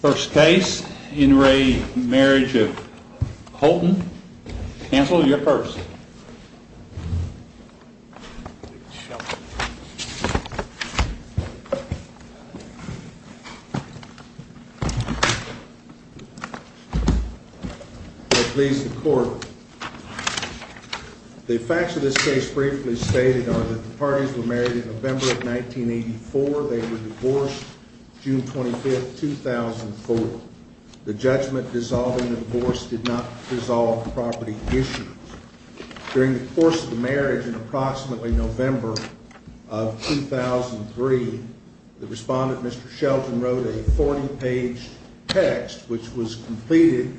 First case, in re Marriage of Houghton. Counsel, you're first. The facts of this case briefly stated are that the parties were married in November of 1984. They were divorced June 25th, 2004. The judgment dissolving the divorce did not dissolve the property issue. During the course of the marriage in approximately November of 2003, the respondent, Mr. Shelton, wrote a 40-page text which was completed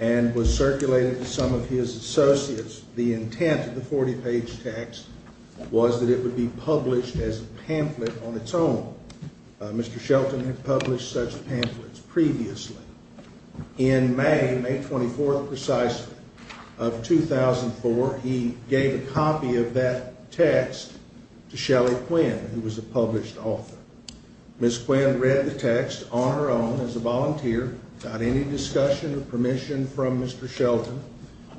and was circulated to some of his associates. The intent of the 40-page text was that it would be published as a pamphlet on its own. Mr. Shelton had published such pamphlets previously. In May, May 24th precisely, of 2004, he gave a copy of that text to Shelly Quinn, who was a published author. Ms. Quinn read the text on her own as a volunteer, without any discussion or permission from Mr. Shelton,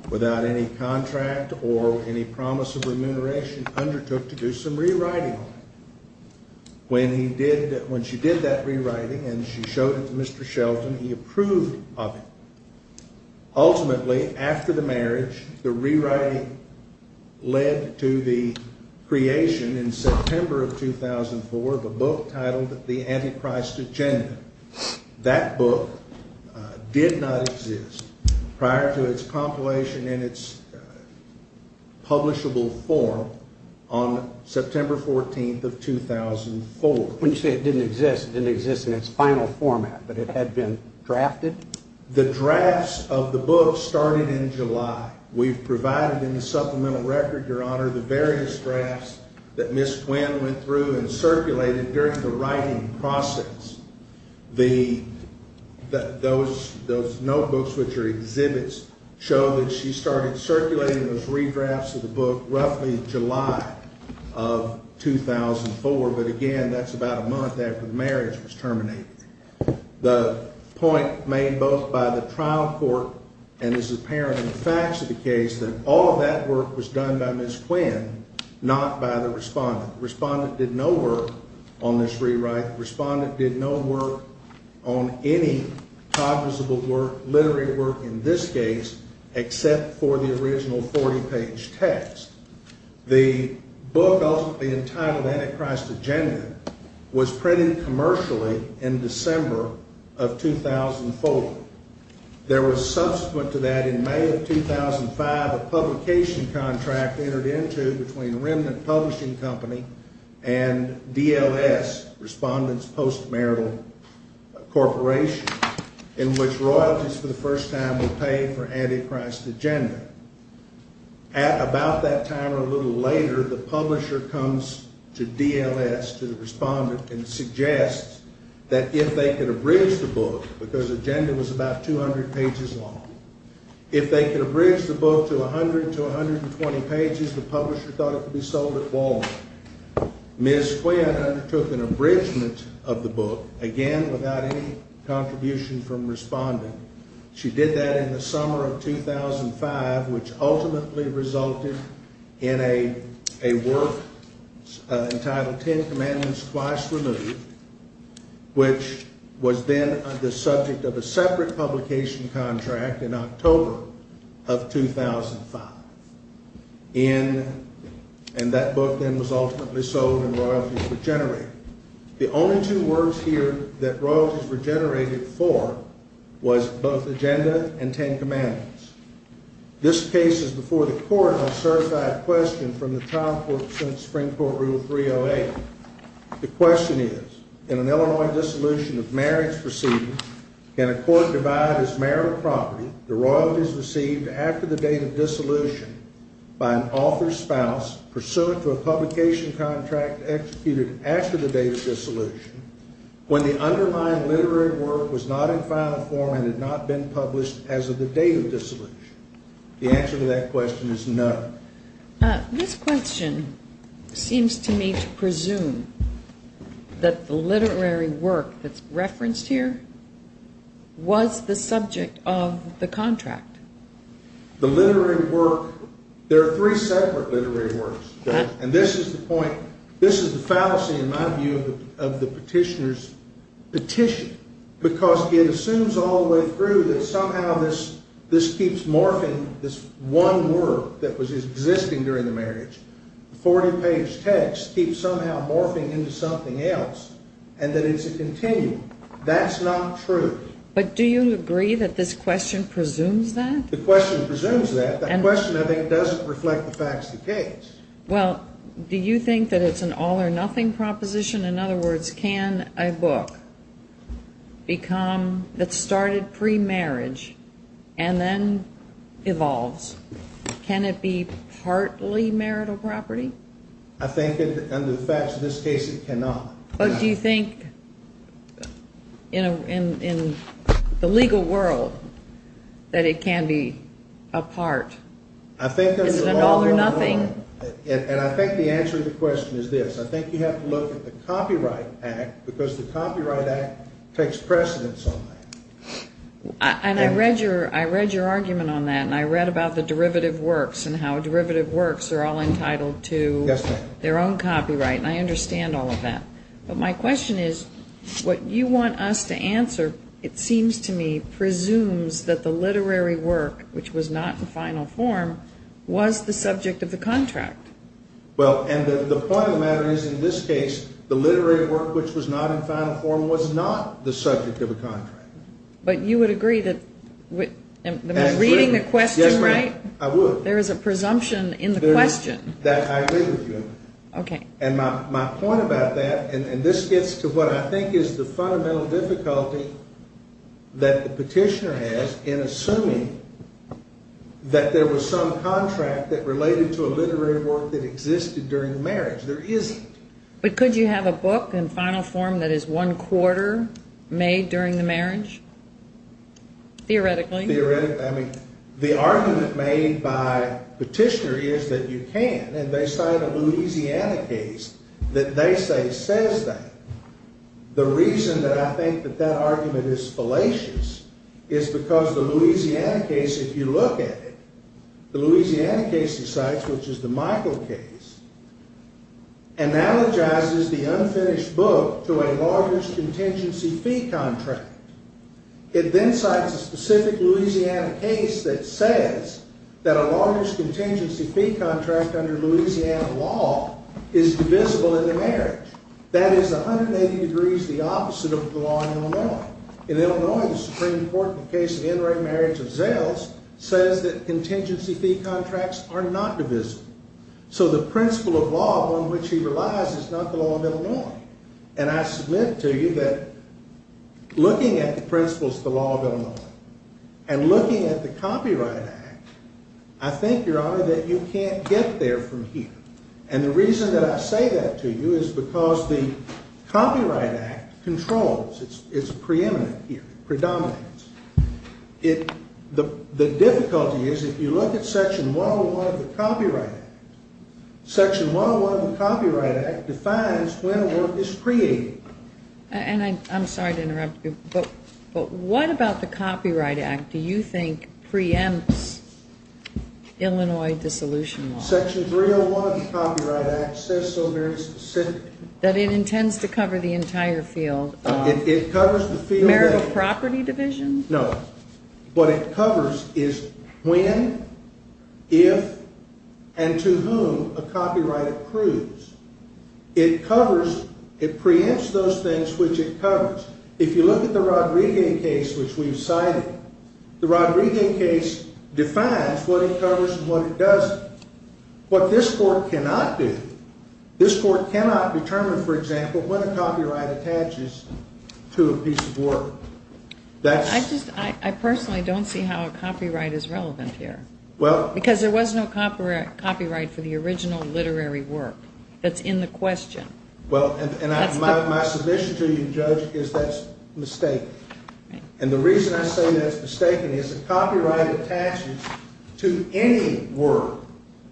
without any contract or any promise of remuneration, undertook to do some rewriting. When she did that rewriting and she showed it to Mr. Shelton, he approved of it. Ultimately, after the marriage, the rewriting led to the creation in September of 2004 of a book titled The Antichrist Agenda. That book did not exist prior to its compilation in its publishable form on September 14th of 2004. When you say it didn't exist, it didn't exist in its final format, but it had been drafted? The drafts of the book started in July. We've provided in the supplemental record, Your Honor, the various drafts that Ms. Quinn went through and circulated during the writing process. Those notebooks, which are exhibits, show that she started circulating those redrafts of the book roughly in July of 2004, but again, that's about a month after the marriage was terminated. The point made both by the trial court and is apparent in the facts of the case that all of that work was done by Ms. Quinn, not by the respondent. The respondent did no work on this rewrite. The respondent did no work on any cognizable work, literary work in this case, except for the original 40-page text. The book ultimately entitled Antichrist Agenda was printed commercially in December of 2004. There was subsequent to that in May of 2005 a publication contract entered into between Remnant Publishing Company and DLS, Respondent's Postmarital Corporation, in which royalties for the first time were paid for Antichrist Agenda. At about that time or a little later, the publisher comes to DLS, to the respondent, and suggests that if they could abridge the book, because Agenda was about 200 pages long, if they could abridge the book to 100 to 120 pages, the publisher thought it could be sold at Walmart. Ms. Quinn undertook an abridgement of the book, again without any contribution from respondent. She did that in the summer of 2005, which ultimately resulted in a work entitled Ten Commandments Twice Removed, which was then the subject of a separate publication contract in October of 2005. And that book then was ultimately sold and royalties were generated. The only two works here that royalties were generated for was both Agenda and Ten Commandments. This case is before the court on a certified question from the trial court since Supreme Court Rule 308. The question is, in an Illinois dissolution of marriage proceedings, can a court divide as marital property the royalties received after the date of dissolution by an author's spouse, pursuant to a publication contract executed after the date of dissolution, when the underlying literary work was not in final form and had not been published as of the date of dissolution? The answer to that question is no. This question seems to me to presume that the literary work that's referenced here was the subject of the contract. The literary work, there are three separate literary works, and this is the point, this is the fallacy in my view of the petitioner's petition, because it assumes all the way through that somehow this keeps morphing this one work that was existing during the marriage. The 40-page text keeps somehow morphing into something else, and that it's a continuum. That's not true. But do you agree that this question presumes that? The question presumes that. The question, I think, doesn't reflect the facts of the case. Well, do you think that it's an all-or-nothing proposition? In other words, can a book become, that started pre-marriage and then evolves, can it be partly marital property? I think, under the facts of this case, it cannot. But do you think in the legal world that it can be a part? Is it an all-or-nothing? And I think the answer to the question is this. I think you have to look at the Copyright Act, because the Copyright Act takes precedence on that. And I read your argument on that, and I read about the derivative works and how derivative works are all entitled to their own copyright, and I understand all of that. But my question is, what you want us to answer, it seems to me, presumes that the literary work, which was not in final form, was the subject of the contract. Well, and the point of the matter is, in this case, the literary work, which was not in final form, was not the subject of a contract. But you would agree that, reading the question, right? Yes, I would. There is a presumption in the question. Okay. And my point about that, and this gets to what I think is the fundamental difficulty that the petitioner has in assuming that there was some contract that related to a literary work that existed during the marriage. There isn't. But could you have a book in final form that is one quarter made during the marriage, theoretically? The argument made by the petitioner is that you can, and they cite a Louisiana case that they say says that. The reason that I think that that argument is fallacious is because the Louisiana case, if you look at it, the Louisiana case he cites, which is the Michael case, analogizes the unfinished book to a largest contingency fee contract. It then cites a specific Louisiana case that says that a largest contingency fee contract under Louisiana law is divisible in the marriage. That is 180 degrees the opposite of the law in Illinois. In Illinois, the Supreme Court, in the case of the in-ring marriage of Zales, says that contingency fee contracts are not divisible. So the principle of law on which he relies is not the law of Illinois. And I submit to you that looking at the principles of the law of Illinois and looking at the Copyright Act, I think, Your Honor, that you can't get there from here. And the reason that I say that to you is because the Copyright Act controls. It's preeminent here. It predominates. The difficulty is if you look at Section 101 of the Copyright Act, Section 101 of the Copyright Act defines when a work is created. And I'm sorry to interrupt you, but what about the Copyright Act do you think preempts Illinois dissolution law? Section 301 of the Copyright Act says so very specifically. That it intends to cover the entire field. It covers the field. Is there a property division? No. What it covers is when, if, and to whom a copyright approves. It covers, it preempts those things which it covers. If you look at the Rodriguez case, which we've cited, the Rodriguez case defines what it covers and what it doesn't. What this Court cannot do, this Court cannot determine, for example, what a copyright attaches to a piece of work. I just, I personally don't see how a copyright is relevant here. Well. Because there was no copyright for the original literary work that's in the question. Well, and my submission to you, Judge, is that's mistaken. And the reason I say that's mistaken is a copyright attaches to any work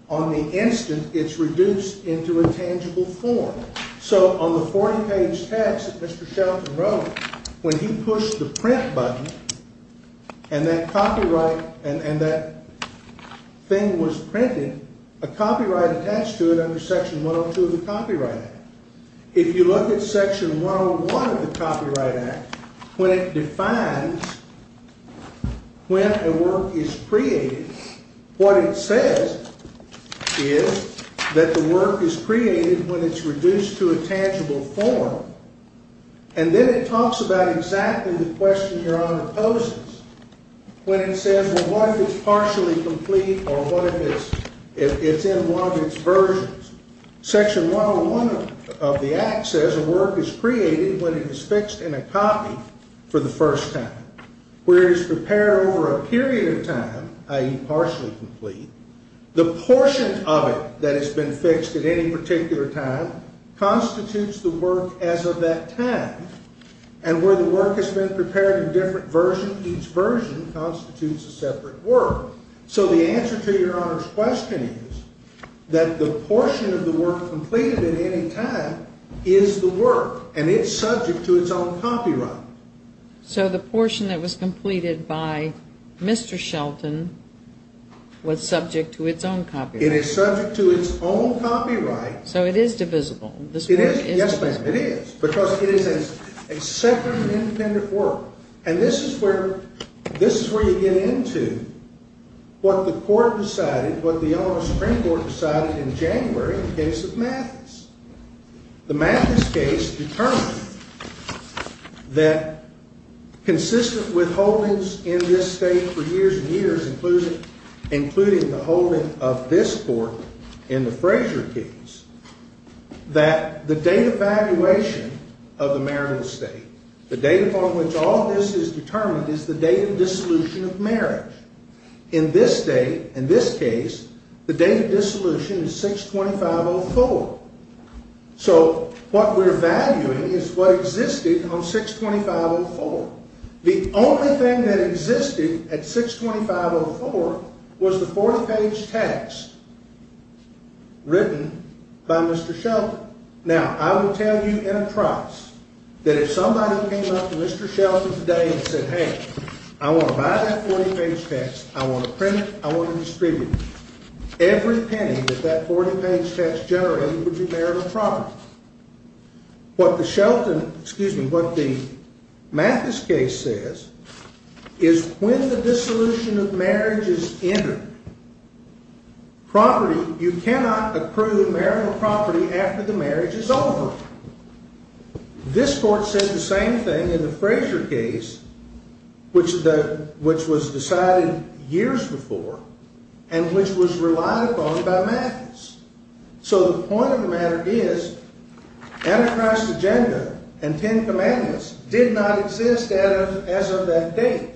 on the instant it's reduced into a tangible form. So on the 40-page text that Mr. Shelton wrote, when he pushed the print button and that copyright, and that thing was printed, a copyright attached to it under Section 102 of the Copyright Act. If you look at Section 101 of the Copyright Act, when it defines when a work is created, what it says is that the work is created when it's reduced to a tangible form. And then it talks about exactly the question Your Honor poses when it says, well, what if it's partially complete or what if it's in one of its versions? Section 101 of the Act says a work is created when it is fixed in a copy for the first time. Where it is prepared over a period of time, i.e. partially complete, the portion of it that has been fixed at any particular time constitutes the work as of that time. And where the work has been prepared in different versions, each version constitutes a separate work. So the answer to Your Honor's question is that the portion of the work completed at any time is the work, and it's subject to its own copyright. So the portion that was completed by Mr. Shelton was subject to its own copyright. It is subject to its own copyright. So it is divisible. Yes, ma'am, it is. Because it is a separate and independent work. And this is where you get into what the court decided, what the U.S. Supreme Court decided in January in the case of Mathis. The Mathis case determined that consistent with holdings in this state for years and years, including the holding of this court in the Frazier case, that the date of valuation of the marital estate, the date upon which all of this is determined, is the date of dissolution of marriage. In this state, in this case, the date of dissolution is 625.04. So what we're valuing is what existed on 625.04. The only thing that existed at 625.04 was the 40-page text written by Mr. Shelton. Now, I will tell you in a trance that if somebody came up to Mr. Shelton today and said, Hey, I want to buy that 40-page text, I want to print it, I want to distribute it, every penny that that 40-page text generated would be marital property. What the Shelton, excuse me, what the Mathis case says is when the dissolution of marriage is entered, property, you cannot approve marital property after the marriage is over. This court said the same thing in the Frazier case, which was decided years before and which was relied upon by Mathis. So the point of the matter is, Anarchist Agenda and Ten Commandments did not exist as of that date.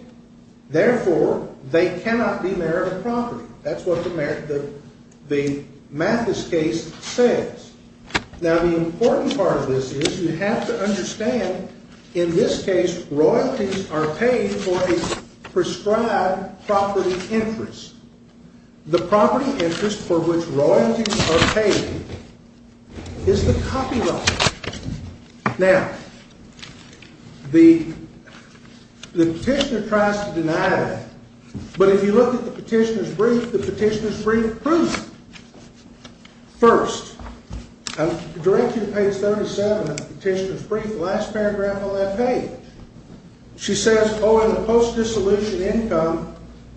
Therefore, they cannot be marital property. That's what the Mathis case says. Now, the important part of this is you have to understand, in this case, royalties are paid for a prescribed property interest. The property interest for which royalties are paid is the copyright. Now, the petitioner tries to deny that. But if you look at the petitioner's brief, the petitioner's brief proves it. First, I'll direct you to page 37 of the petitioner's brief, the last paragraph on that page. She says, oh, and the post-dissolution income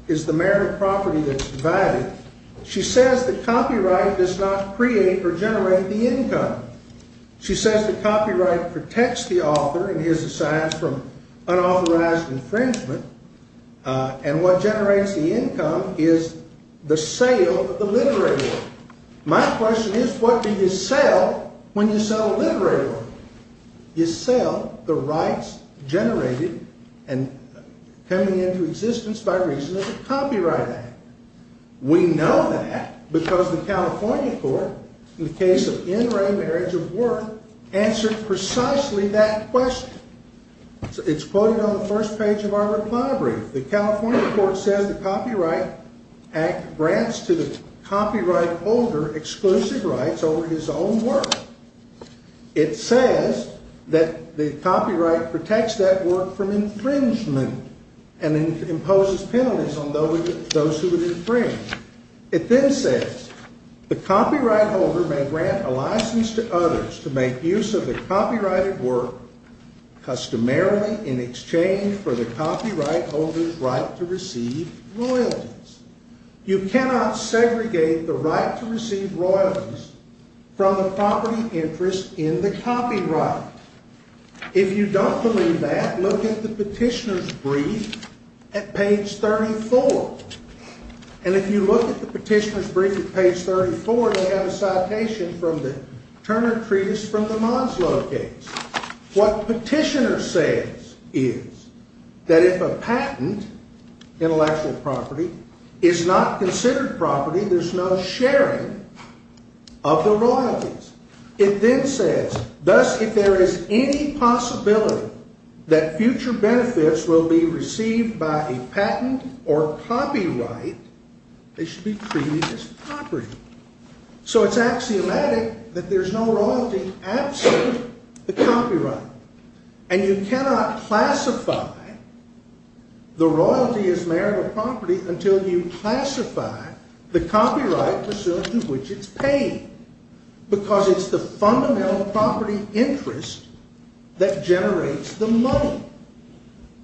is the marital property that's divided. She says the copyright does not create or generate the income. She says the copyright protects the author and his assigned from unauthorized infringement. And what generates the income is the sale of the literary work. My question is, what do you sell when you sell a literary work? You sell the rights generated and coming into existence by reason of the Copyright Act. We know that because the California court, in the case of in-ray marriage of work, answered precisely that question. It's quoted on the first page of our reply brief. The California court says the Copyright Act grants to the copyright holder exclusive rights over his own work. It says that the copyright protects that work from infringement and imposes penalties on those who would infringe. It then says the copyright holder may grant a license to others to make use of the copyrighted work customarily in exchange for the copyright holder's right to receive royalties. You cannot segregate the right to receive royalties from the property interest in the copyright. If you don't believe that, look at the petitioner's brief at page 34. And if you look at the petitioner's brief at page 34, they have a citation from the Turner Treatise from the Monslow case. What petitioner says is that if a patent, intellectual property, is not considered property, there's no sharing of the royalties. It then says, thus, if there is any possibility that future benefits will be received by a patent or copyright, they should be treated as property. So it's axiomatic that there's no royalty absent the copyright. And you cannot classify the royalty as marital property until you classify the copyright presumed to which it's paid. Because it's the fundamental property interest that generates the money.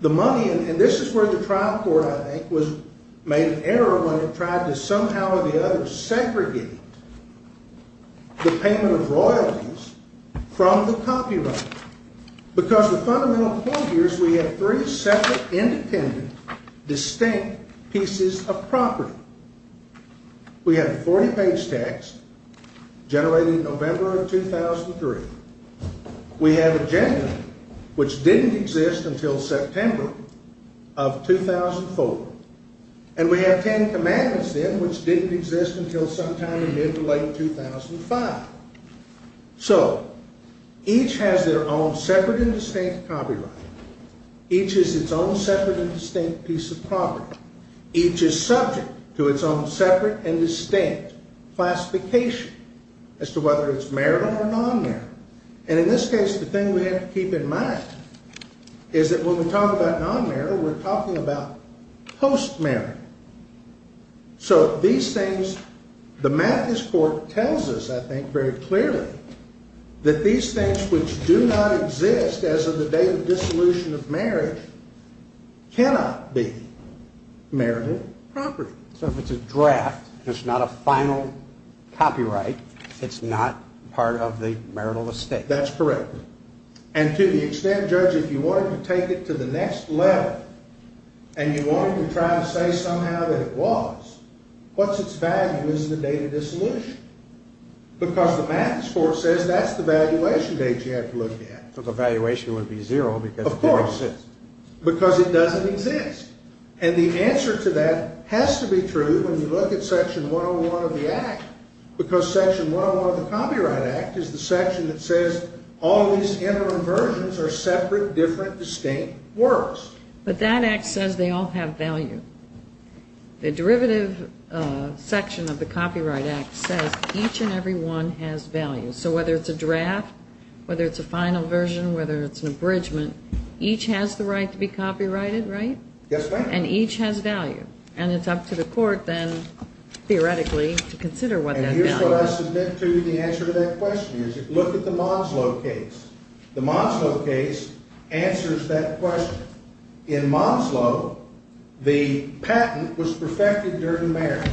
The money, and this is where the trial court, I think, made an error when it tried to somehow or the other segregate the payment of royalties from the copyright. Because the fundamental point here is we have three separate, independent, distinct pieces of property. We have a 40-page text generated in November of 2003. We have a gender, which didn't exist until September of 2004. And we have 10 commandments then, which didn't exist until sometime in mid to late 2005. So each has their own separate and distinct copyright. Each is its own separate and distinct piece of property. Each is subject to its own separate and distinct classification as to whether it's marital or non-marital. And in this case, the thing we have to keep in mind is that when we talk about non-marital, we're talking about post-marital. So these things, the Mathis court tells us, I think, very clearly, that these things which do not exist as of the date of dissolution of marriage cannot be marital property. So if it's a draft, it's not a final copyright. It's not part of the marital estate. That's correct. And to the extent, Judge, if you wanted to take it to the next level and you wanted to try to say somehow that it was, what's its value as the date of dissolution? Because the Mathis court says that's the valuation date you have to look at. So the valuation would be zero because it didn't exist. Of course. Because it doesn't exist. And the answer to that has to be true when you look at Section 101 of the Act because Section 101 of the Copyright Act is the section that says all these interim versions are separate, different, distinct works. But that Act says they all have value. The derivative section of the Copyright Act says each and every one has value. So whether it's a draft, whether it's a final version, whether it's an abridgment, each has the right to be copyrighted, right? Yes, ma'am. And each has value. And it's up to the court then, theoretically, to consider what that value is. And here's what I submit to you the answer to that question is look at the Monslo case. The Monslo case answers that question. In Monslo, the patent was perfected during marriage.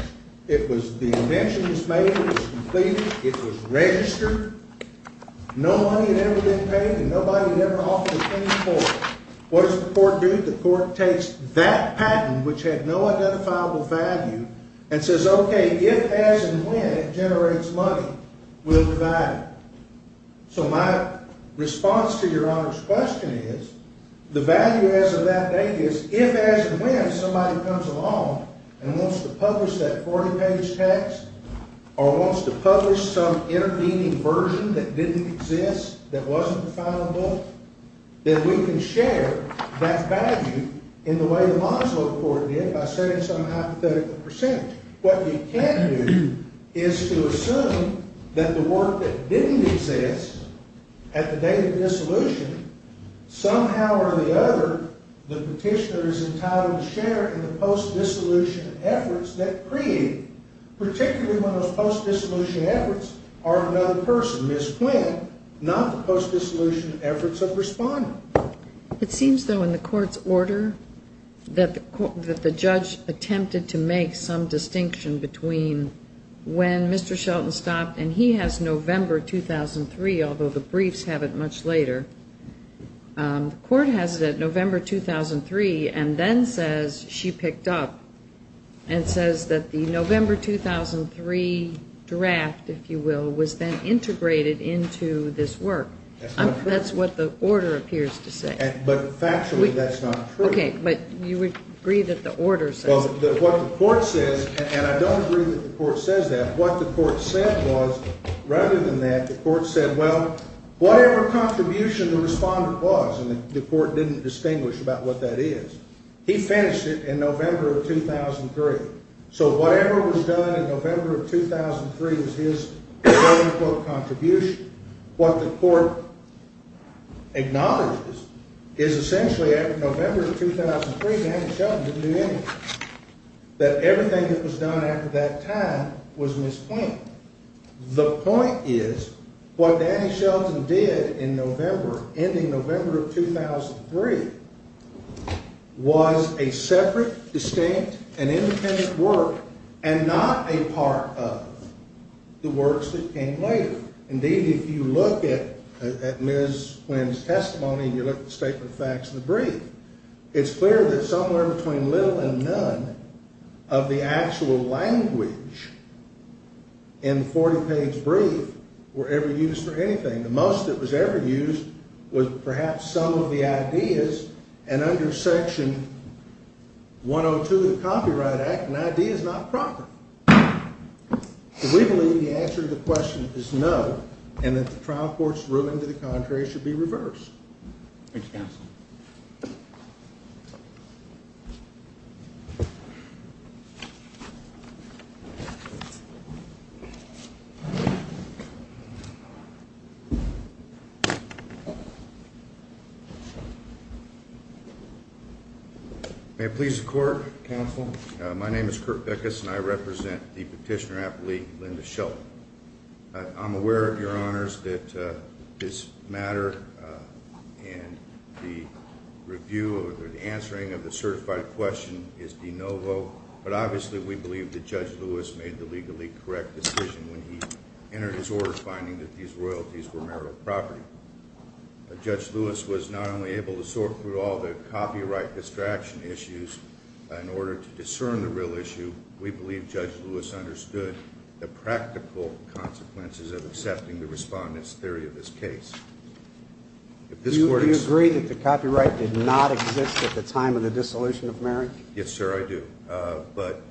It was the invention was made, it was completed, it was registered. No money had ever been paid and nobody had ever offered a penny for it. What does the court do? The court takes that patent, which had no identifiable value, and says, OK, if, as, and when it generates money, we'll divide it. So my response to Your Honor's question is the value as of that date is if, as, and when somebody comes along and wants to publish that 40-page text or wants to publish some intervening version that didn't exist, that wasn't the final book, then we can share that value in the way the Monslo court did by setting some hypothetical percentage. What you can do is to assume that the work that didn't exist at the date of dissolution, somehow or the other, the petitioner is entitled to share in the post-dissolution efforts that created, particularly when those post-dissolution efforts are another person, Ms. Quinn, not the post-dissolution efforts of Respondent. It seems, though, in the court's order that the judge attempted to make some distinction between when Mr. Shelton stopped, and he has November 2003, although the briefs have it much later, the court has it at November 2003, and then says she picked up and says that the November 2003 draft, if you will, was then integrated into this work. That's not true. That's what the order appears to say. But factually, that's not true. OK, but you would agree that the order says. Well, what the court says, and I don't agree that the court says that. What the court said was, rather than that, the court said, well, whatever contribution the Respondent was, and the court didn't distinguish about what that is, he finished it in November of 2003. So whatever was done in November of 2003 was his quote-unquote contribution. What the court acknowledges is essentially after November of 2003, Danny Shelton didn't do anything. That everything that was done after that time was misplaced. The point is what Danny Shelton did in November, ending November of 2003, was a separate, distinct, and independent work, and not a part of the works that came later. Indeed, if you look at Ms. Flynn's testimony and you look at the statement of facts in the brief, it's clear that somewhere between little and none of the actual language in the 40-page brief were ever used for anything. The most that was ever used was perhaps some of the ideas, and under Section 102 of the Copyright Act, an idea is not proper. We believe the answer to the question is no, and that the trial court's ruling to the contrary should be reversed. Thank you, Counsel. May it please the Court, Counsel. My name is Kurt Beckus, and I represent the petitioner-appellee Linda Shelton. I'm aware, Your Honors, that this matter and the review or the answering of the certified question is de novo, but obviously we believe that Judge Lewis made the legally correct decision when he entered his order finding that these royalties were marital property. Judge Lewis was not only able to sort through all the copyright distraction issues in order to discern the real issue, we believe Judge Lewis understood the practical consequences of accepting the Respondent's theory of this case. Do you agree that the copyright did not exist at the time of the dissolution of marriage? Yes, sir, I do, but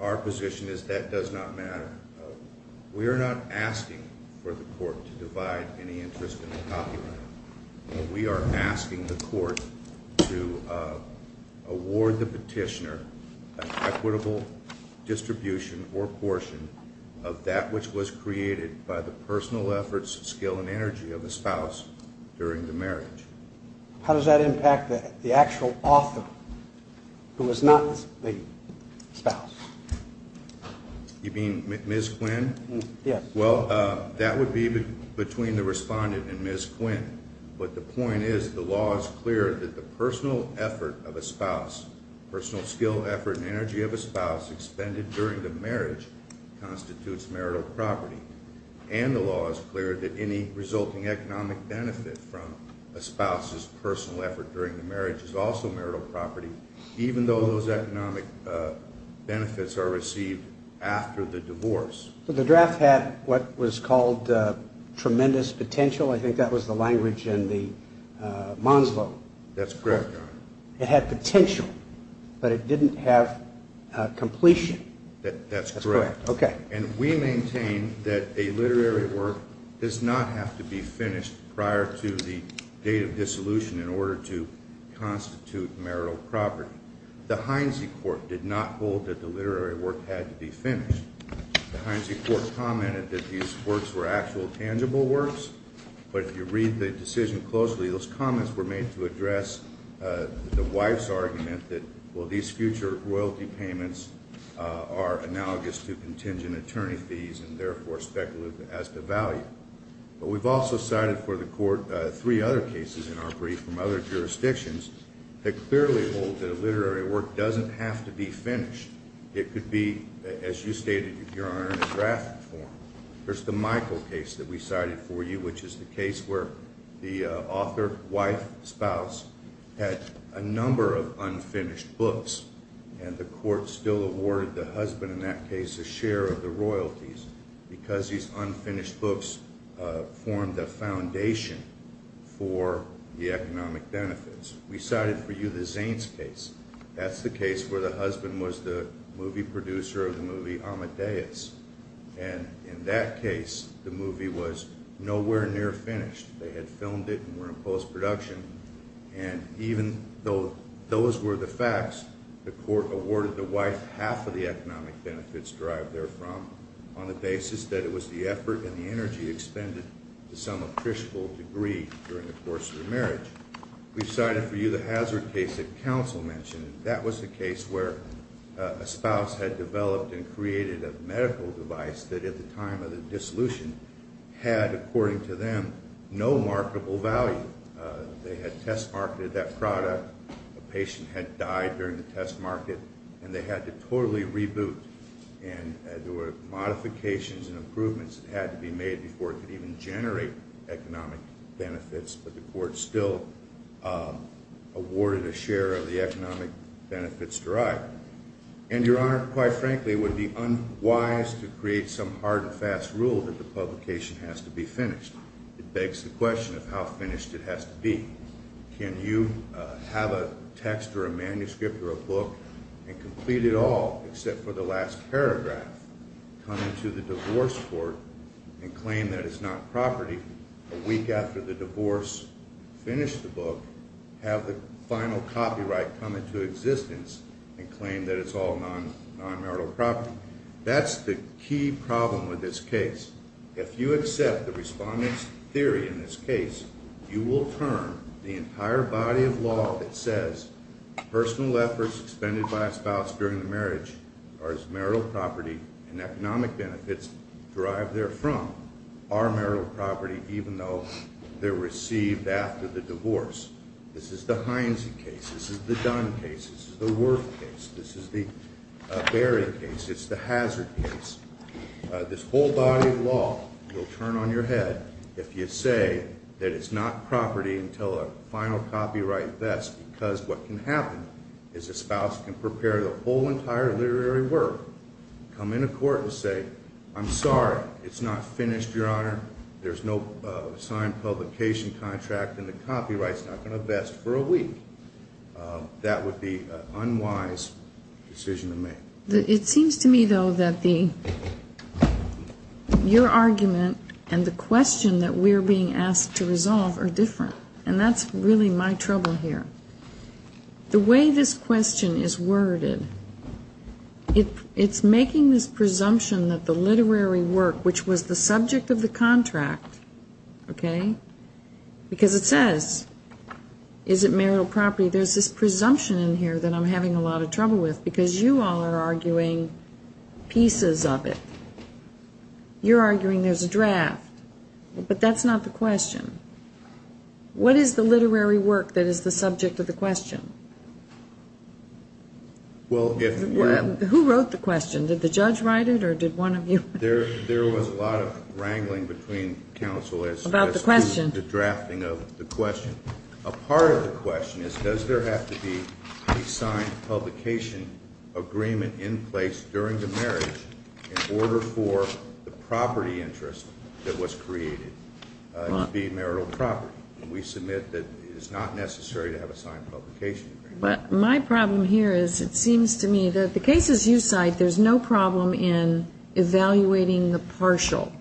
our position is that does not matter. We are not asking for the court to divide any interest in the copyright. We are asking the court to award the petitioner an equitable distribution or portion of that which was created by the personal efforts, skill, and energy of the spouse during the marriage. How does that impact the actual author, who is not the spouse? You mean Ms. Quinn? Yes. Well, that would be between the Respondent and Ms. Quinn, but the point is the law is clear that the personal effort of a spouse, personal skill, effort, and energy of a spouse expended during the marriage constitutes marital property, and the law is clear that any resulting economic benefit from a spouse's personal effort during the marriage is also marital property, even though those economic benefits are received after the divorce. So the draft had what was called tremendous potential. I think that was the language in the Monslow. That's correct, Your Honor. It had potential, but it didn't have completion. That's correct. Okay. And we maintain that a literary work does not have to be finished prior to the date of dissolution in order to constitute marital property. The Heinze Court did not hold that the literary work had to be finished. The Heinze Court commented that these works were actual tangible works, but if you read the decision closely, those comments were made to address the wife's argument that, well, these future royalty payments are analogous to contingent attorney fees and therefore speculative as to value. But we've also cited for the Court three other cases in our brief from other jurisdictions that clearly hold that a literary work doesn't have to be finished. It could be, as you stated, Your Honor, in a draft form. There's the Michael case that we cited for you, which is the case where the author, wife, spouse had a number of unfinished books, and the Court still awarded the husband in that case a share of the royalties because these unfinished books formed the foundation for the economic benefits. We cited for you the Zanes case. That's the case where the husband was the movie producer of the movie Amadeus. And in that case, the movie was nowhere near finished. They had filmed it and were in post-production. And even though those were the facts, the Court awarded the wife half of the economic benefits derived therefrom on the basis that it was the effort and the energy expended to some appreciable degree during the course of the marriage. We've cited for you the Hazard case that counsel mentioned. That was the case where a spouse had developed and created a medical device that at the time of the dissolution had, according to them, no marketable value. They had test-marketed that product. A patient had died during the test market, and they had to totally reboot. And there were modifications and improvements that had to be made before it could even generate economic benefits. But the Court still awarded a share of the economic benefits derived. And Your Honor, quite frankly, it would be unwise to create some hard and fast rule that the publication has to be finished. It begs the question of how finished it has to be. Can you have a text or a manuscript or a book and complete it all except for the last paragraph, come into the divorce court and claim that it's not property a week after the divorce, finish the book, have the final copyright come into existence, and claim that it's all non-marital property? That's the key problem with this case. If you accept the Respondent's theory in this case, you will turn the entire body of law that says personal efforts expended by a spouse during the marriage are as marital property and economic benefits derived therefrom are marital property even though they're received after the divorce. This is the Heinze case. This is the Dunn case. This is the Worth case. This is the Berry case. It's the Hazard case. This whole body of law will turn on your head if you say that it's not property until a final copyright vests because what can happen is a spouse can prepare the whole entire literary work, come into court and say, I'm sorry, it's not finished, Your Honor. There's no signed publication contract and the copyright's not going to vest for a week. That would be an unwise decision to make. It seems to me, though, that your argument and the question that we're being asked to resolve are different, and that's really my trouble here. The way this question is worded, it's making this presumption that the literary work, which was the subject of the contract, okay, because it says, is it marital property, there's this presumption in here that I'm having a lot of trouble with because you all are arguing pieces of it. But that's not the question. What is the literary work that is the subject of the question? Who wrote the question? Did the judge write it or did one of you? There was a lot of wrangling between counsel as to the drafting of the question. A part of the question is does there have to be a signed publication agreement in place during the marriage in order for the property interest that was created to be marital property? And we submit that it is not necessary to have a signed publication agreement. But my problem here is it seems to me that the cases you cite, there's no problem in evaluating the partial.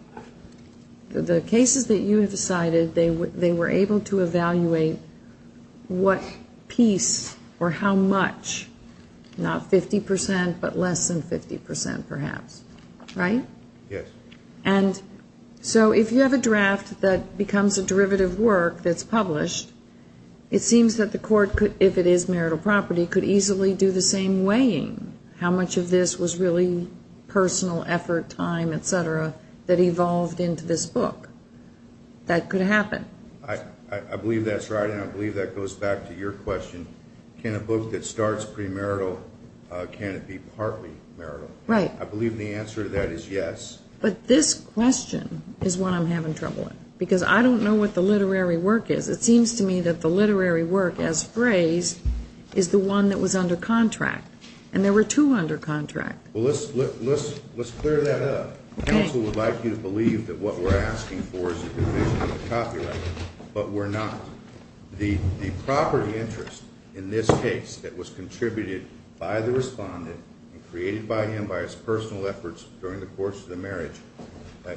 The cases that you have cited, they were able to evaluate what piece or how much, not 50%, but less than 50%, perhaps. Right? Yes. And so if you have a draft that becomes a derivative work that's published, it seems that the court, if it is marital property, could easily do the same weighing, how much of this was really personal effort, time, et cetera, that evolved into this book. That could happen. I believe that's right, and I believe that goes back to your question. Can a book that starts premarital, can it be partly marital? Right. I believe the answer to that is yes. But this question is what I'm having trouble with because I don't know what the literary work is. It seems to me that the literary work as phrased is the one that was under contract, and there were two under contract. Well, let's clear that up. Counsel would like you to believe that what we're asking for is a revision of the copyright, but we're not. The property interest in this case that was contributed by the respondent and created by him by his personal efforts during the course of the marriage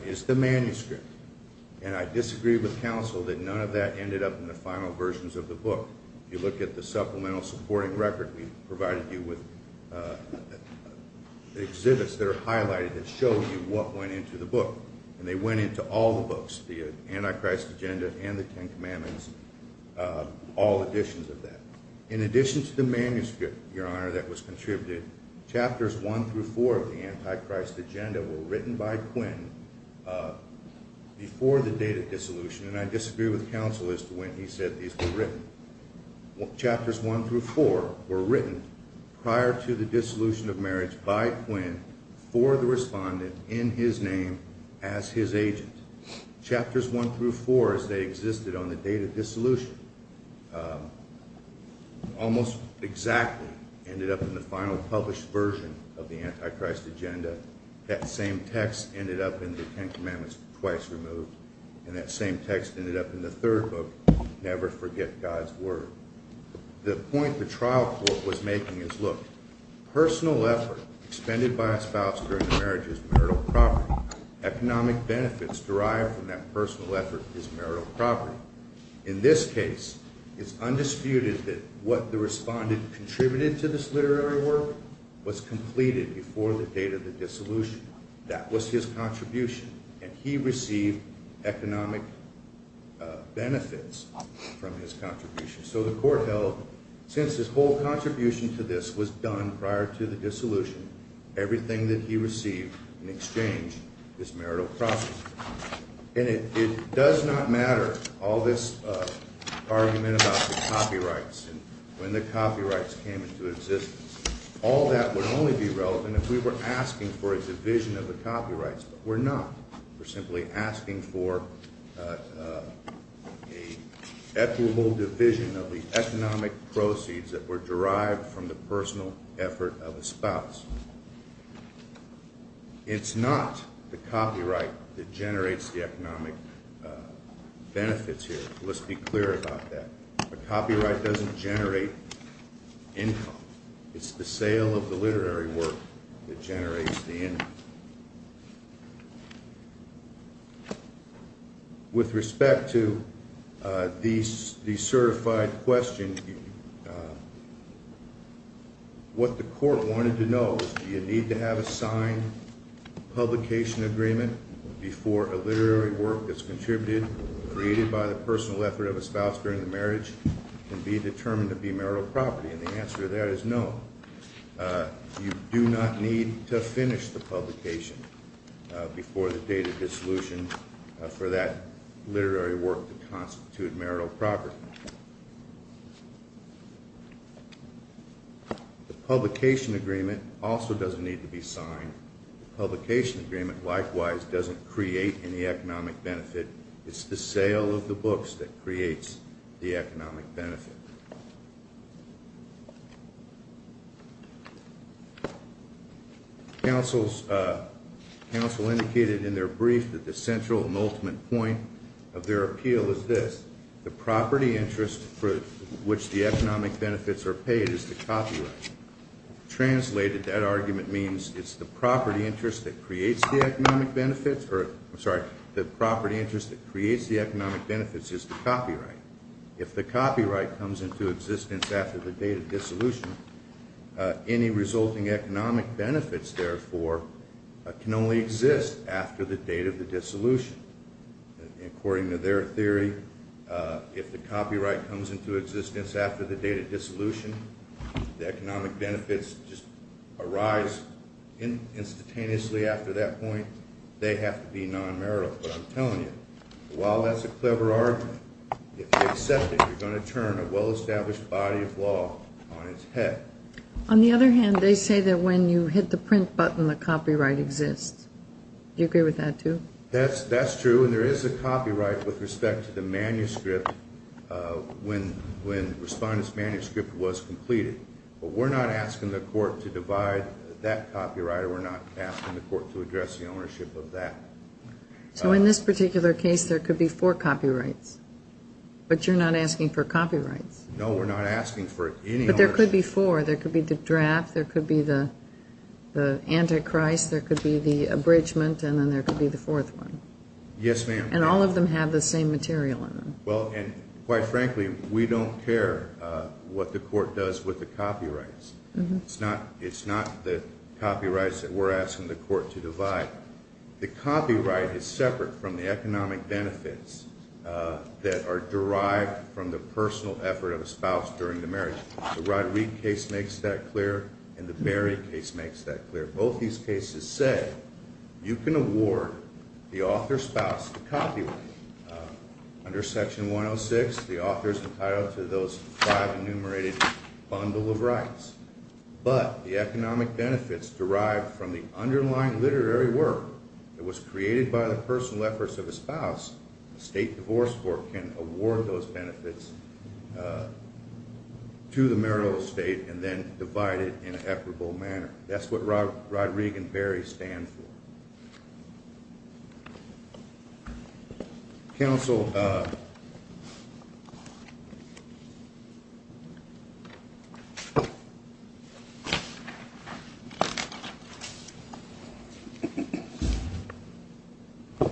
is the manuscript. And I disagree with counsel that none of that ended up in the final versions of the book. If you look at the supplemental supporting record, we provided you with exhibits that are highlighted that show you what went into the book. And they went into all the books, the Antichrist Agenda and the Ten Commandments, all editions of that. In addition to the manuscript, Your Honor, that was contributed, Chapters 1 through 4 of the Antichrist Agenda were written by Quinn before the date of dissolution, and I disagree with counsel as to when he said these were written. Chapters 1 through 4 were written prior to the dissolution of marriage by Quinn for the respondent in his name as his agent. Chapters 1 through 4, as they existed on the date of dissolution, almost exactly ended up in the final published version of the Antichrist Agenda. That same text ended up in the Ten Commandments twice removed, and that same text ended up in the third book, Never Forget God's Word. The point the trial court was making is, look, personal effort expended by a spouse during the marriage is marital property. Economic benefits derived from that personal effort is marital property. In this case, it's undisputed that what the respondent contributed to this literary work was completed before the date of the dissolution. That was his contribution, and he received economic benefits from his contribution. So the court held, since his whole contribution to this was done prior to the dissolution, everything that he received in exchange is marital property. And it does not matter all this argument about the copyrights and when the copyrights came into existence. All that would only be relevant if we were asking for a division of the copyrights, but we're not. We're simply asking for a equitable division of the economic proceeds that were derived from the personal effort of a spouse. It's not the copyright that generates the economic benefits here. Let's be clear about that. A copyright doesn't generate income. It's the sale of the literary work that generates the income. With respect to the certified question, what the court wanted to know is, do you need to have a signed publication agreement before a literary work that's contributed, created by the personal effort of a spouse during the marriage, can be determined to be marital property? And the answer to that is no. You do not need to finish the publication before the date of dissolution for that literary work to constitute marital property. The publication agreement also doesn't need to be signed. The publication agreement, likewise, doesn't create any economic benefit. It's the sale of the books that creates the economic benefit. Counsel indicated in their brief that the central and ultimate point of their appeal is this, the property interest for which the economic benefits are paid is the copyright. Translated, that argument means it's the property interest that creates the economic benefits or, I'm sorry, the property interest that creates the economic benefits is the copyright. If the copyright comes into existence after the date of dissolution, any resulting economic benefits, therefore, can only exist after the date of the dissolution. According to their theory, if the copyright comes into existence after the date of dissolution, the economic benefits just arise instantaneously after that point. They have to be non-marital. But I'm telling you, while that's a clever argument, if they accept it, you're going to turn a well-established body of law on its head. On the other hand, they say that when you hit the print button, the copyright exists. Do you agree with that, too? That's true, and there is a copyright with respect to the manuscript when Respondent's manuscript was completed. But we're not asking the court to divide that copyright, or we're not asking the court to address the ownership of that. So in this particular case, there could be four copyrights, but you're not asking for copyrights? No, we're not asking for any ownership. But there could be four. There could be the draft, there could be the antichrist, there could be the abridgment, and then there could be the fourth one. Yes, ma'am. And all of them have the same material in them. Well, and quite frankly, we don't care what the court does with the copyrights. It's not the copyrights that we're asking the court to divide. The copyright is separate from the economic benefits that are derived from the personal effort of a spouse during the marriage. The Rod Reid case makes that clear, and the Berry case makes that clear. Both these cases said you can award the author's spouse the copyright. Under Section 106, the author's entitled to those five enumerated bundle of rights. But the economic benefits derived from the underlying literary work that was created by the personal efforts of a spouse, the state divorce court can award those benefits to the marital estate and then divide it in an equitable manner. That's what Rod Reid and Berry stand for. Counsel, I'll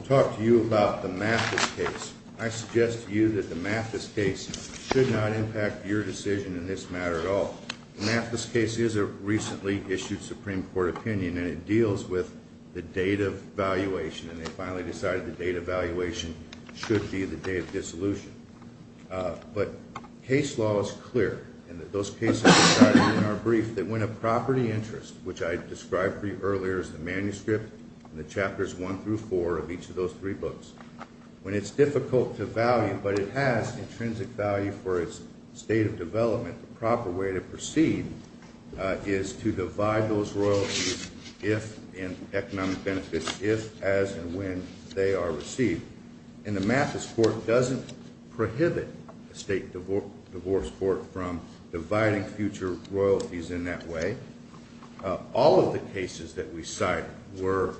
talk to you about the Mathis case. I suggest to you that the Mathis case should not impact your decision in this matter at all. The Mathis case is a recently issued Supreme Court opinion, and it deals with the date of valuation, and they finally decided the date of valuation should be the day of dissolution. But case law is clear in that those cases are decided in our brief that when a property interest, which I described to you earlier as the manuscript in the chapters one through four of each of those three books, when it's difficult to value but it has intrinsic value for its state of development, the proper way to proceed is to divide those royalties in economic benefits if, as, and when they are received. And the Mathis court doesn't prohibit a state divorce court from dividing future royalties in that way. All of the cases that we cite were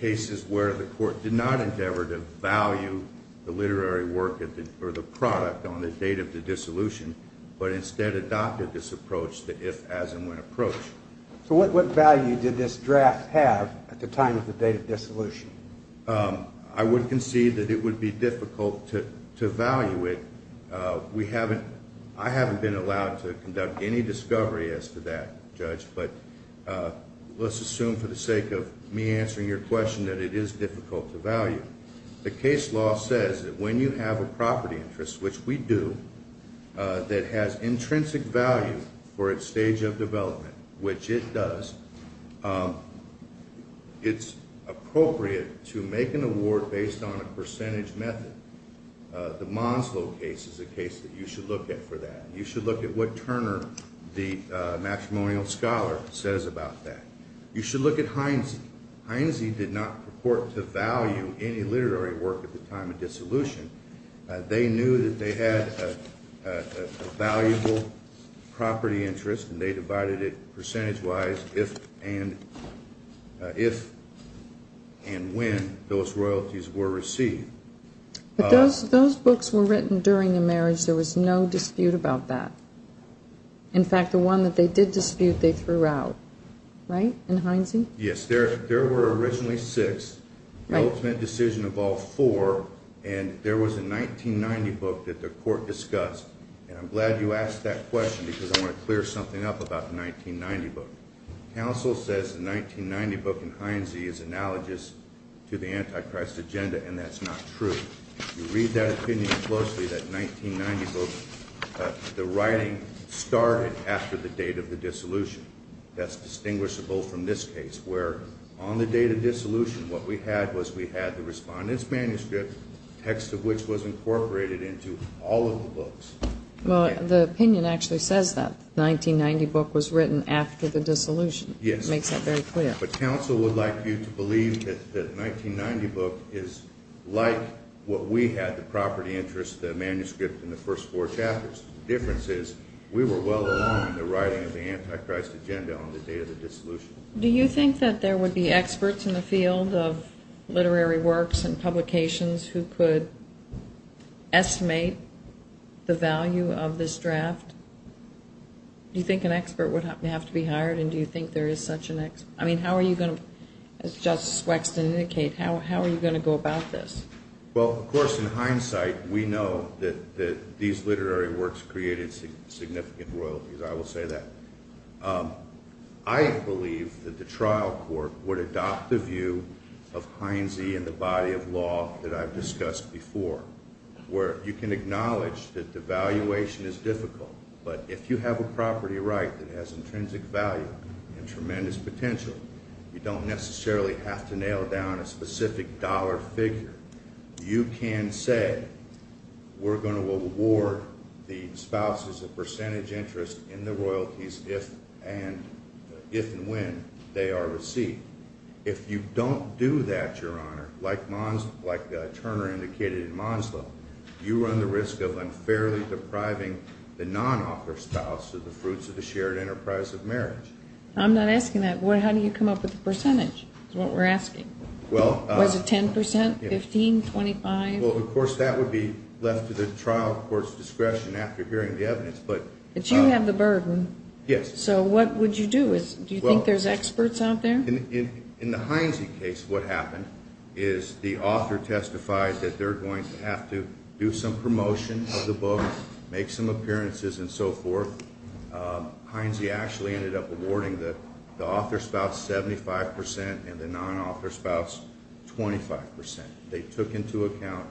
cases where the court did not endeavor to value the literary work or the product on the date of the dissolution, but instead adopted this approach, the if, as, and when approach. So what value did this draft have at the time of the date of dissolution? I would concede that it would be difficult to value it. I haven't been allowed to conduct any discovery as to that, Judge, but let's assume for the sake of me answering your question that it is difficult to value. The case law says that when you have a property interest, which we do, that has intrinsic value for its stage of development, which it does, it's appropriate to make an award based on a percentage method. The Monslow case is a case that you should look at for that. You should look at what Turner, the matrimonial scholar, says about that. You should look at Heinze. Heinze did not purport to value any literary work at the time of dissolution. They knew that they had a valuable property interest, and they divided it percentage-wise if and when those royalties were received. But those books were written during the marriage. There was no dispute about that. In fact, the one that they did dispute, they threw out, right, in Heinze? Yes. There were originally six. The ultimate decision involved four, and there was a 1990 book that the court discussed, and I'm glad you asked that question because I want to clear something up about the 1990 book. Counsel says the 1990 book in Heinze is analogous to the Antichrist agenda, and that's not true. If you read that opinion closely, that 1990 book, the writing started after the date of the dissolution. That's distinguishable from this case, where on the date of dissolution, the text of which was incorporated into all of the books. Well, the opinion actually says that the 1990 book was written after the dissolution. Yes. It makes that very clear. But counsel would like you to believe that the 1990 book is like what we had, the property interest, the manuscript in the first four chapters. The difference is we were well along in the writing of the Antichrist agenda on the day of the dissolution. Do you think that there would be experts in the field of literary works and publications who could estimate the value of this draft? Do you think an expert would have to be hired, and do you think there is such an expert? I mean, how are you going to, as Justice Wexton indicated, how are you going to go about this? Well, of course, in hindsight, we know that these literary works created significant royalties. I will say that. I believe that the trial court would adopt the view of Heinze and the body of law that I've discussed before, where you can acknowledge that the valuation is difficult, but if you have a property right that has intrinsic value and tremendous potential, you don't necessarily have to nail down a specific dollar figure. You can say we're going to award the spouses a percentage interest in the royalties if and when they are received. If you don't do that, Your Honor, like Turner indicated in Monslow, you run the risk of unfairly depriving the non-offer spouse of the fruits of the shared enterprise of marriage. I'm not asking that. How do you come up with the percentage is what we're asking. Was it 10 percent, 15, 25? Well, of course, that would be left to the trial court's discretion after hearing the evidence. But you have the burden. Yes. So what would you do? Do you think there's experts out there? In the Heinze case, what happened is the author testified that they're going to have to do some promotion of the book, make some appearances and so forth. Heinze actually ended up awarding the author spouse 75 percent and the non-author spouse 25 percent. They took into account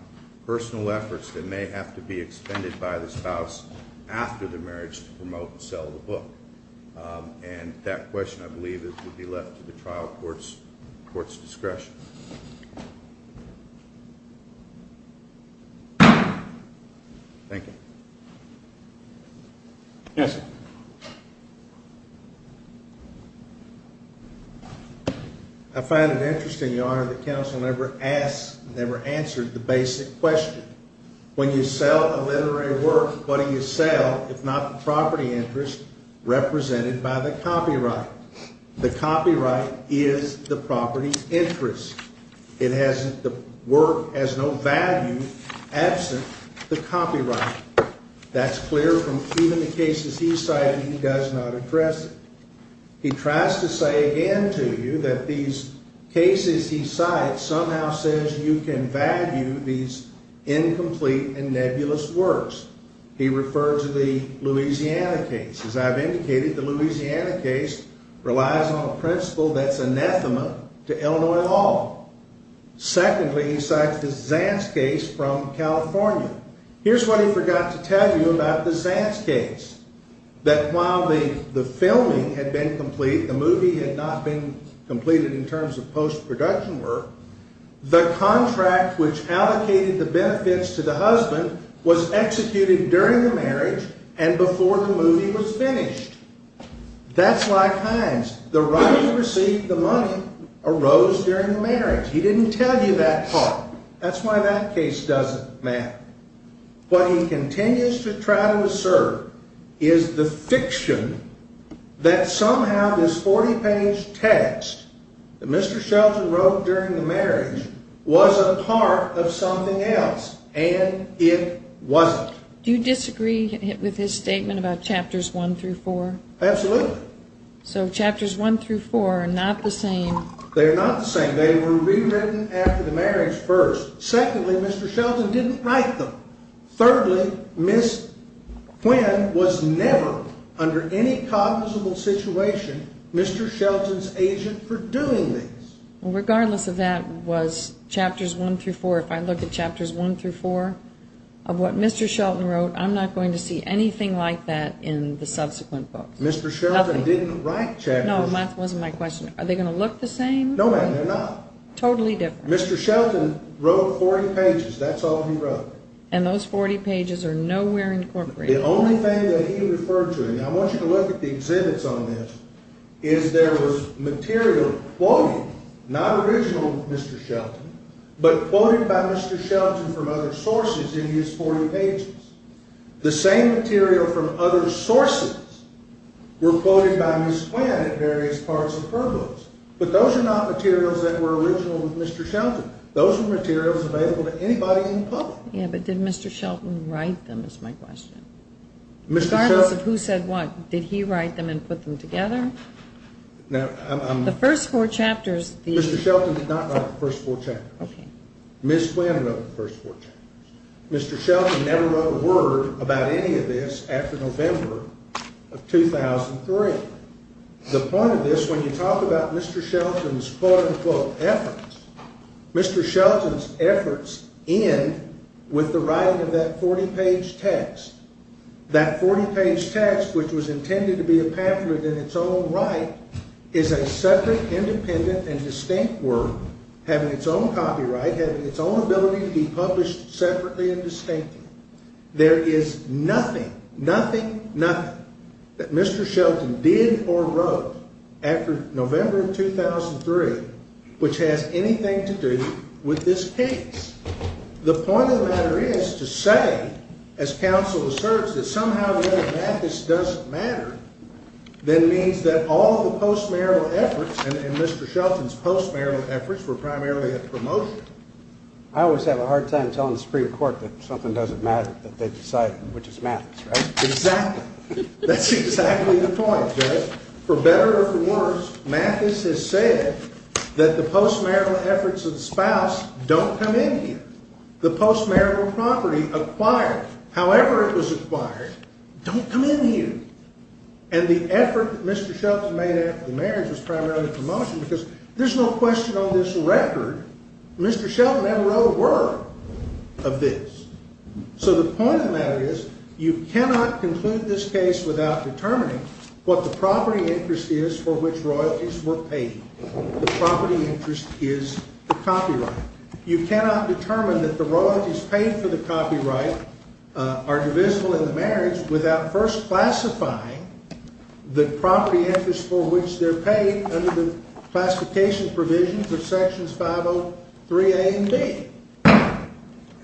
personal efforts that may have to be expended by the spouse after the marriage to promote and sell the book. And that question, I believe, would be left to the trial court's discretion. Thank you. Counsel? I find it interesting, Your Honor, that counsel never asked, never answered the basic question. When you sell a literary work, what do you sell, if not the property interest represented by the copyright? The copyright is the property interest. It has, the work has no value absent the copyright. That's clear from even the cases he's cited. He does not address it. He tries to say again to you that these cases he cites somehow says you can value these incomplete and nebulous works. He referred to the Louisiana case. As I've indicated, the Louisiana case relies on a principle that's anathema to Illinois law. Secondly, he cites the Zanz case from California. Here's what he forgot to tell you about the Zanz case, that while the filming had been complete, the movie had not been completed in terms of post-production work, the contract which allocated the benefits to the husband was executed during the marriage and before the movie was finished. That's like Hines. The right to receive the money arose during the marriage. He didn't tell you that part. That's why that case doesn't matter. What he continues to try to assert is the fiction that somehow this 40-page text that Mr. Shelton wrote during the marriage was a part of something else, and it wasn't. Do you disagree with his statement about chapters 1 through 4? Absolutely. So chapters 1 through 4 are not the same. They're not the same. They were rewritten after the marriage first. Secondly, Mr. Shelton didn't write them. Thirdly, Ms. Quinn was never, under any cognizable situation, Mr. Shelton's agent for doing these. Regardless of that, was chapters 1 through 4, if I look at chapters 1 through 4 of what Mr. Shelton wrote, I'm not going to see anything like that in the subsequent books. Mr. Shelton didn't write chapters. No, that wasn't my question. Are they going to look the same? No, ma'am, they're not. Totally different. Mr. Shelton wrote 40 pages. That's all he wrote. And those 40 pages are nowhere incorporated. The only thing that he referred to, and I want you to look at the exhibits on this, is there was material quoted, not original Mr. Shelton, but quoted by Mr. Shelton from other sources in his 40 pages. The same material from other sources were quoted by Ms. Quinn at various parts of her books. But those are not materials that were original with Mr. Shelton. Those were materials available to anybody in public. Yeah, but did Mr. Shelton write them is my question. Mr. Shelton... Regardless of who said what, did he write them and put them together? Now, I'm... The first four chapters... Mr. Shelton did not write the first four chapters. Okay. Ms. Quinn wrote the first four chapters. Mr. Shelton never wrote a word about any of this after November of 2003. The point of this, when you talk about Mr. Shelton's quote-unquote efforts, Mr. Shelton's efforts end with the writing of that 40-page text. That 40-page text, which was intended to be a pamphlet in its own right, is a separate, independent, and distinct work, having its own copyright, having its own ability to be published separately and distinctly. There is nothing, nothing, nothing that Mr. Shelton did or wrote after November of 2003 which has anything to do with this case. The point of the matter is to say, as counsel asserts, that somehow whether Mathis doesn't matter then means that all the post-marital efforts and Mr. Shelton's post-marital efforts were primarily a promotion. I always have a hard time telling the Supreme Court that something doesn't matter, that they decided, which is Mathis, right? Exactly. That's exactly the point, Judge. For better or for worse, Mathis has said that the post-marital efforts of the spouse don't come in here. The post-marital property acquired, however it was acquired, don't come in here. And the effort that Mr. Shelton made after the marriage was primarily a promotion because there's no question on this record Mr. Shelton never wrote a word of this. So the point of the matter is you cannot conclude this case without determining what the property interest is for which royalties were paid. The property interest is the copyright. You cannot determine that the royalties paid for the copyright are divisible in the marriage without first classifying the property interest for which they're paid under the classification provisions of sections 503A and B.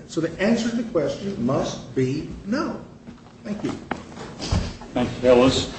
So the answer to the question must be no. Thank you. Thank you, Ellis.